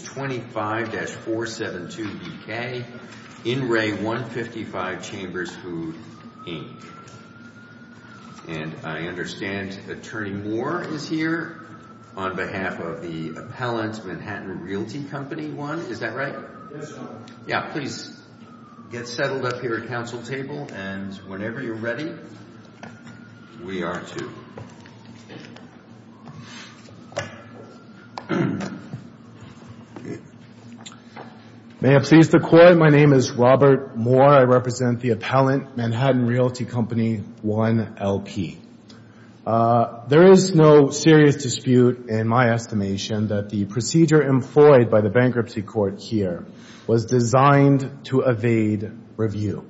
25-472BK, In Re 155 Chambers Food Inc. And I understand Attorney Moore is here on behalf of the Appellant Manhattan Realty Company 1, is that right? Yes, sir. Yeah, please get settled up here at council table and whenever you're ready, we are too. May it please the Court, my name is Robert Moore, I represent the Appellant Manhattan Realty Company 1, LP. There is no serious dispute in my estimation that the procedure employed by the Bankruptcy Court here was designed to evade review.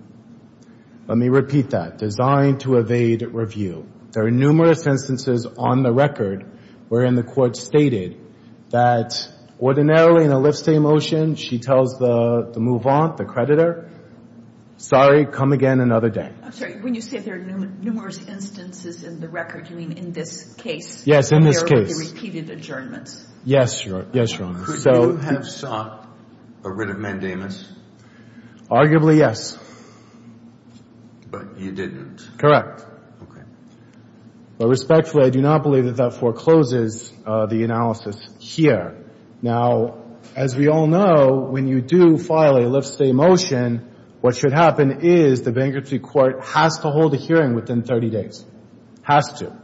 Let me repeat that, designed to evade review. There are numerous instances on the record wherein the Court stated that ordinarily in a lift-stay motion, she tells the move-on, the creditor, sorry, come again another day. I'm sorry, when you say there are numerous instances in the record, you mean in this case? Yes, in this case. Where there would be repeated adjournments? Yes, Your Honor. Could you have sought a writ of mandamus? Arguably, yes. But you didn't? Correct. Okay. But respectfully, I do not believe that that forecloses the analysis here. Now, as we all know, when you do file a lift-stay motion, what should happen is the Bankruptcy Court has to hold a hearing within 30 days. Has to.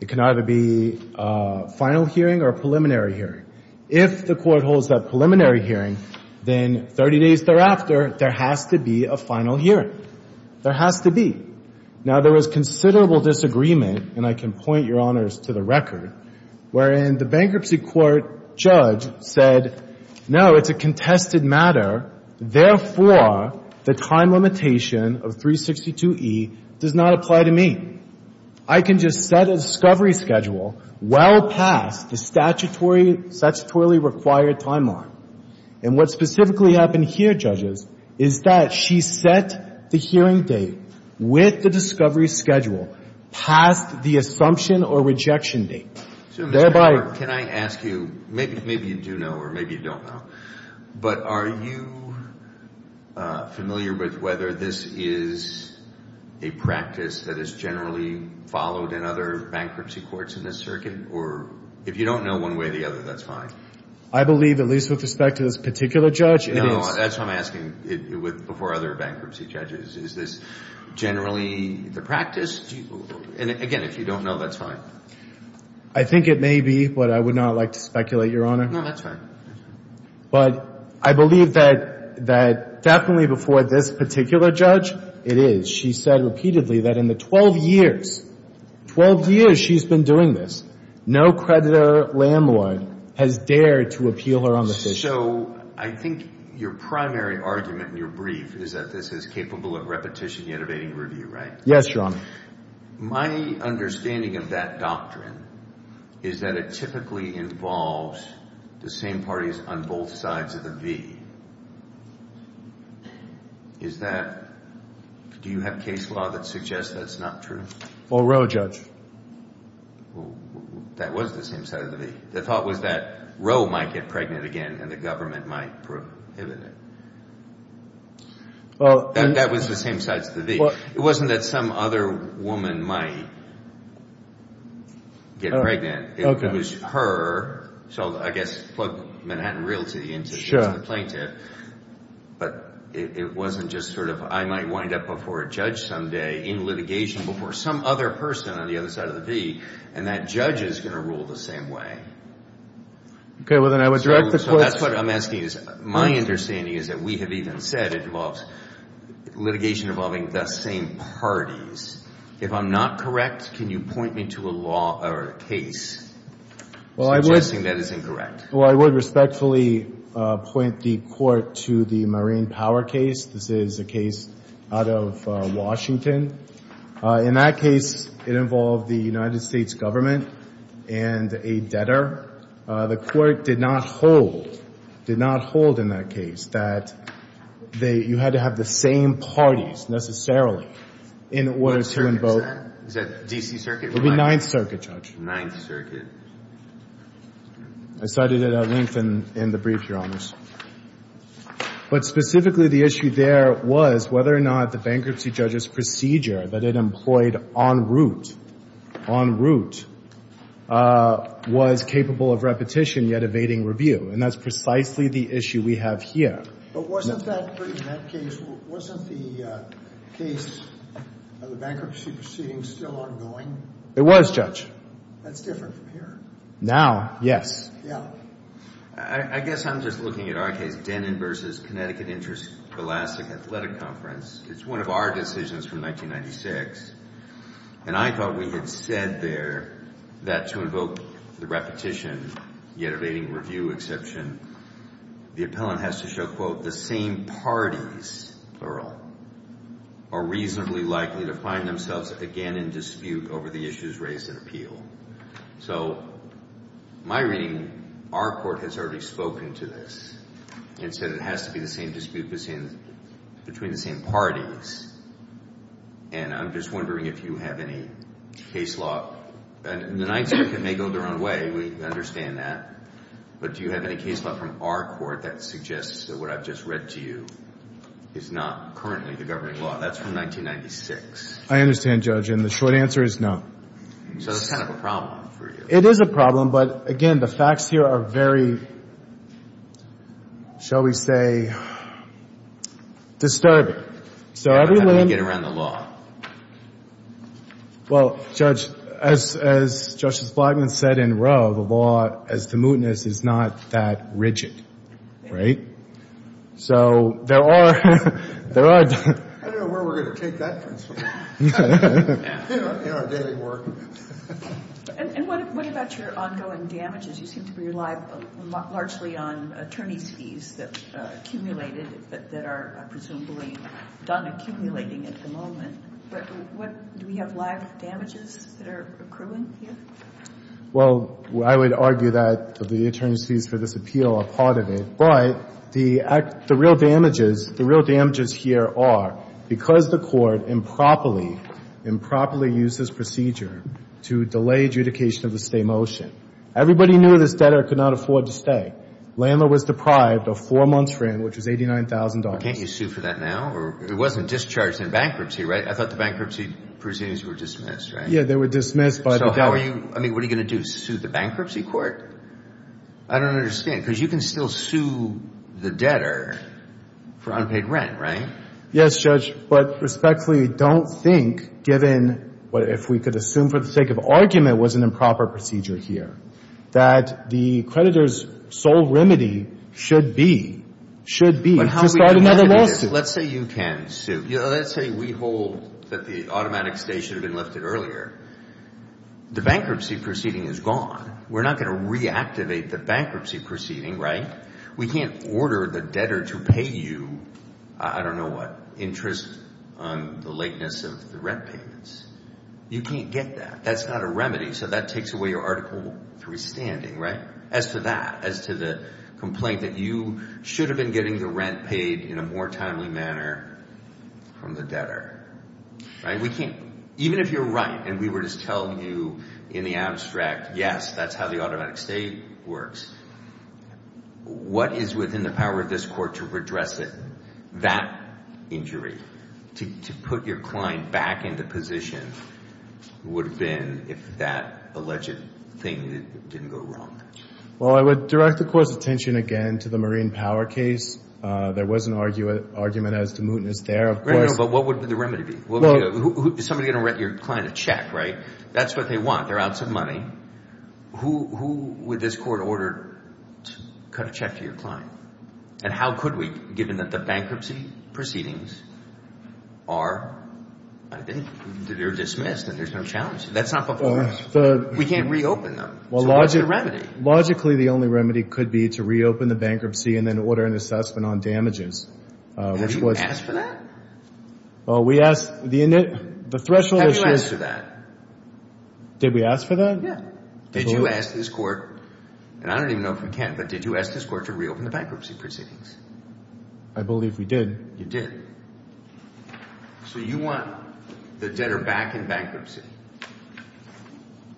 It can either be a final hearing or a preliminary hearing. If the Court holds that preliminary hearing, then 30 days thereafter, there has to be a final hearing. There has to be. Now, there was considerable disagreement, and I can point, Your Honors, to the record, wherein the Bankruptcy Court judge said, no, it's a contested matter, therefore, the time limitation of 362e does not apply to me. I can just set a discovery schedule well past the statutorily required timeline. And what specifically happened here, judges, is that she set the hearing date with the discovery schedule past the assumption or rejection date. So, Mr. Clark, can I ask you, maybe you do know or maybe you don't know, but are you familiar with whether this is a practice that is generally followed in other bankruptcy courts in this circuit? Or if you don't know one way or the other, that's fine. I believe, at least with respect to this particular judge, it is. No, that's what I'm asking before other bankruptcy judges. Is this generally the practice? And, again, if you don't know, that's fine. I think it may be, but I would not like to speculate, Your Honor. No, that's fine. But I believe that definitely before this particular judge, it is. She said repeatedly that in the 12 years, 12 years she's been doing this, no creditor landlord has dared to appeal her own decision. So, I think your primary argument in your brief is that this is capable of repetition, yet evading review, right? Yes, Your Honor. My understanding of that doctrine is that it typically involves the same parties on both sides of the V. Is that, do you have case law that suggests that's not true? Or Roe, Judge. Well, that was the same side of the V. The thought was that Roe might get pregnant again and the government might prohibit it. Well, that was the same side of the V. It wasn't that some other woman might get pregnant. It was her, so I guess plug Manhattan Realty into the plaintiff. But it wasn't just sort of, I might wind up before a judge someday in litigation before some other person on the other side of the V, and that judge is going to rule the same way. Okay. Well, then I would direct the court. So, that's what I'm asking is, my understanding is that we have even said it involves litigation involving the same parties. If I'm not correct, can you point me to a law or a case suggesting that is incorrect? Well, I would respectfully point the court to the Marine Power case. This is a case out of Washington. In that case, it involved the United States government and a debtor. The court did not hold, did not hold in that case that they, you had to have the same parties necessarily in order to invoke. What circuit is that? Is that D.C. Circuit or 9th? It would be 9th Circuit, Judge. 9th Circuit. I cited it at length in the brief, Your Honors. But specifically, the issue there was whether or not the bankruptcy judge's procedure that it employed en route, en route, was capable of repetition yet evading review. And that's precisely the issue we have here. But wasn't that, in that case, wasn't the case of the bankruptcy proceeding still ongoing? It was, Judge. That's different from here. Now, yes. Yeah. I guess I'm just looking at our case, Dennen v. Connecticut Interest Scholastic Athletic Conference. It's one of our decisions from 1996. And I thought we had said there that to invoke the repetition yet evading review exception, the appellant has to show, quote, the same parties, plural, are reasonably likely to find themselves again in dispute over the issues raised in appeal. So my reading, our court has already spoken to this and said it has to be the same dispute between the same parties. And I'm just wondering if you have any case law. And the 9th Circuit may go their own way. We understand that. But do you have any case law from our court that suggests that what I've just read to you is not currently the governing law? That's from 1996. I understand, Judge. And the short answer is no. So it's kind of a problem for you. It is a problem. But, again, the facts here are very, shall we say, disturbing. How do we get around the law? Well, Judge, as Justice Blackmun said in Roe, the law as to mootness is not that rigid, right? So there are, there are. I don't know where we're going to take that principle. In our daily work. And what about your ongoing damages? You seem to rely largely on attorney's fees that accumulated, that are presumably done accumulating at the moment. Do we have live damages that are accruing here? Well, I would argue that the attorney's fees for this appeal are part of it. But the real damages, the real damages here are because the court improperly, improperly used this procedure to delay adjudication of the stay motion. Everybody knew this debtor could not afford to stay. Landlord was deprived of four months' rent, which was $89,000. Can't you sue for that now? It wasn't discharged in bankruptcy, right? I thought the bankruptcy proceedings were dismissed, right? Yeah, they were dismissed. So how are you, I mean, what are you going to do, sue the bankruptcy court? I don't understand. Because you can still sue the debtor for unpaid rent, right? Yes, Judge. But respectfully, I don't think, given what if we could assume for the sake of argument was an improper procedure here, that the creditor's sole remedy should be, should be to start another lawsuit. Let's say you can sue. Let's say we hold that the automatic stay should have been lifted earlier. The bankruptcy proceeding is gone. We're not going to reactivate the bankruptcy proceeding, right? We can't order the debtor to pay you, I don't know what, interest on the lateness of the rent payments. You can't get that. That's not a remedy. So that takes away your Article III standing, right? As to that, as to the complaint that you should have been getting the rent paid in a more timely manner from the debtor. We can't, even if you're right, and we were just telling you in the abstract, yes, that's how the automatic stay works. What is within the power of this court to redress it? That injury, to put your client back into position would have been if that alleged thing didn't go wrong. Well, I would direct the court's attention again to the Marine Power case. There was an argument as to mootness there, of course. But what would the remedy be? Is somebody going to write your client a check, right? That's what they want. They're out some money. Who would this court order to cut a check to your client? And how could we, given that the bankruptcy proceedings are dismissed and there's no challenge? That's not the point. We can't reopen them. So what's the remedy? Logically, the only remedy could be to reopen the bankruptcy and then order an assessment on damages. Have you asked for that? Well, we asked the threshold issue. Have you asked for that? Did we ask for that? Yeah. Did you ask this court, and I don't even know if we can, but did you ask this court to reopen the bankruptcy proceedings? I believe we did. You did. So you want the debtor back in bankruptcy?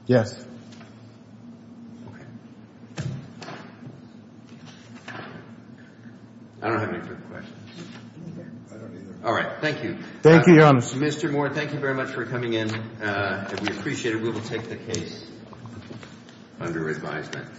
Yes. Okay. I don't have any further questions. All right. Thank you. Thank you, Your Honor. Mr. Moore, thank you very much for coming in. We appreciate it. We will take the case under advisement.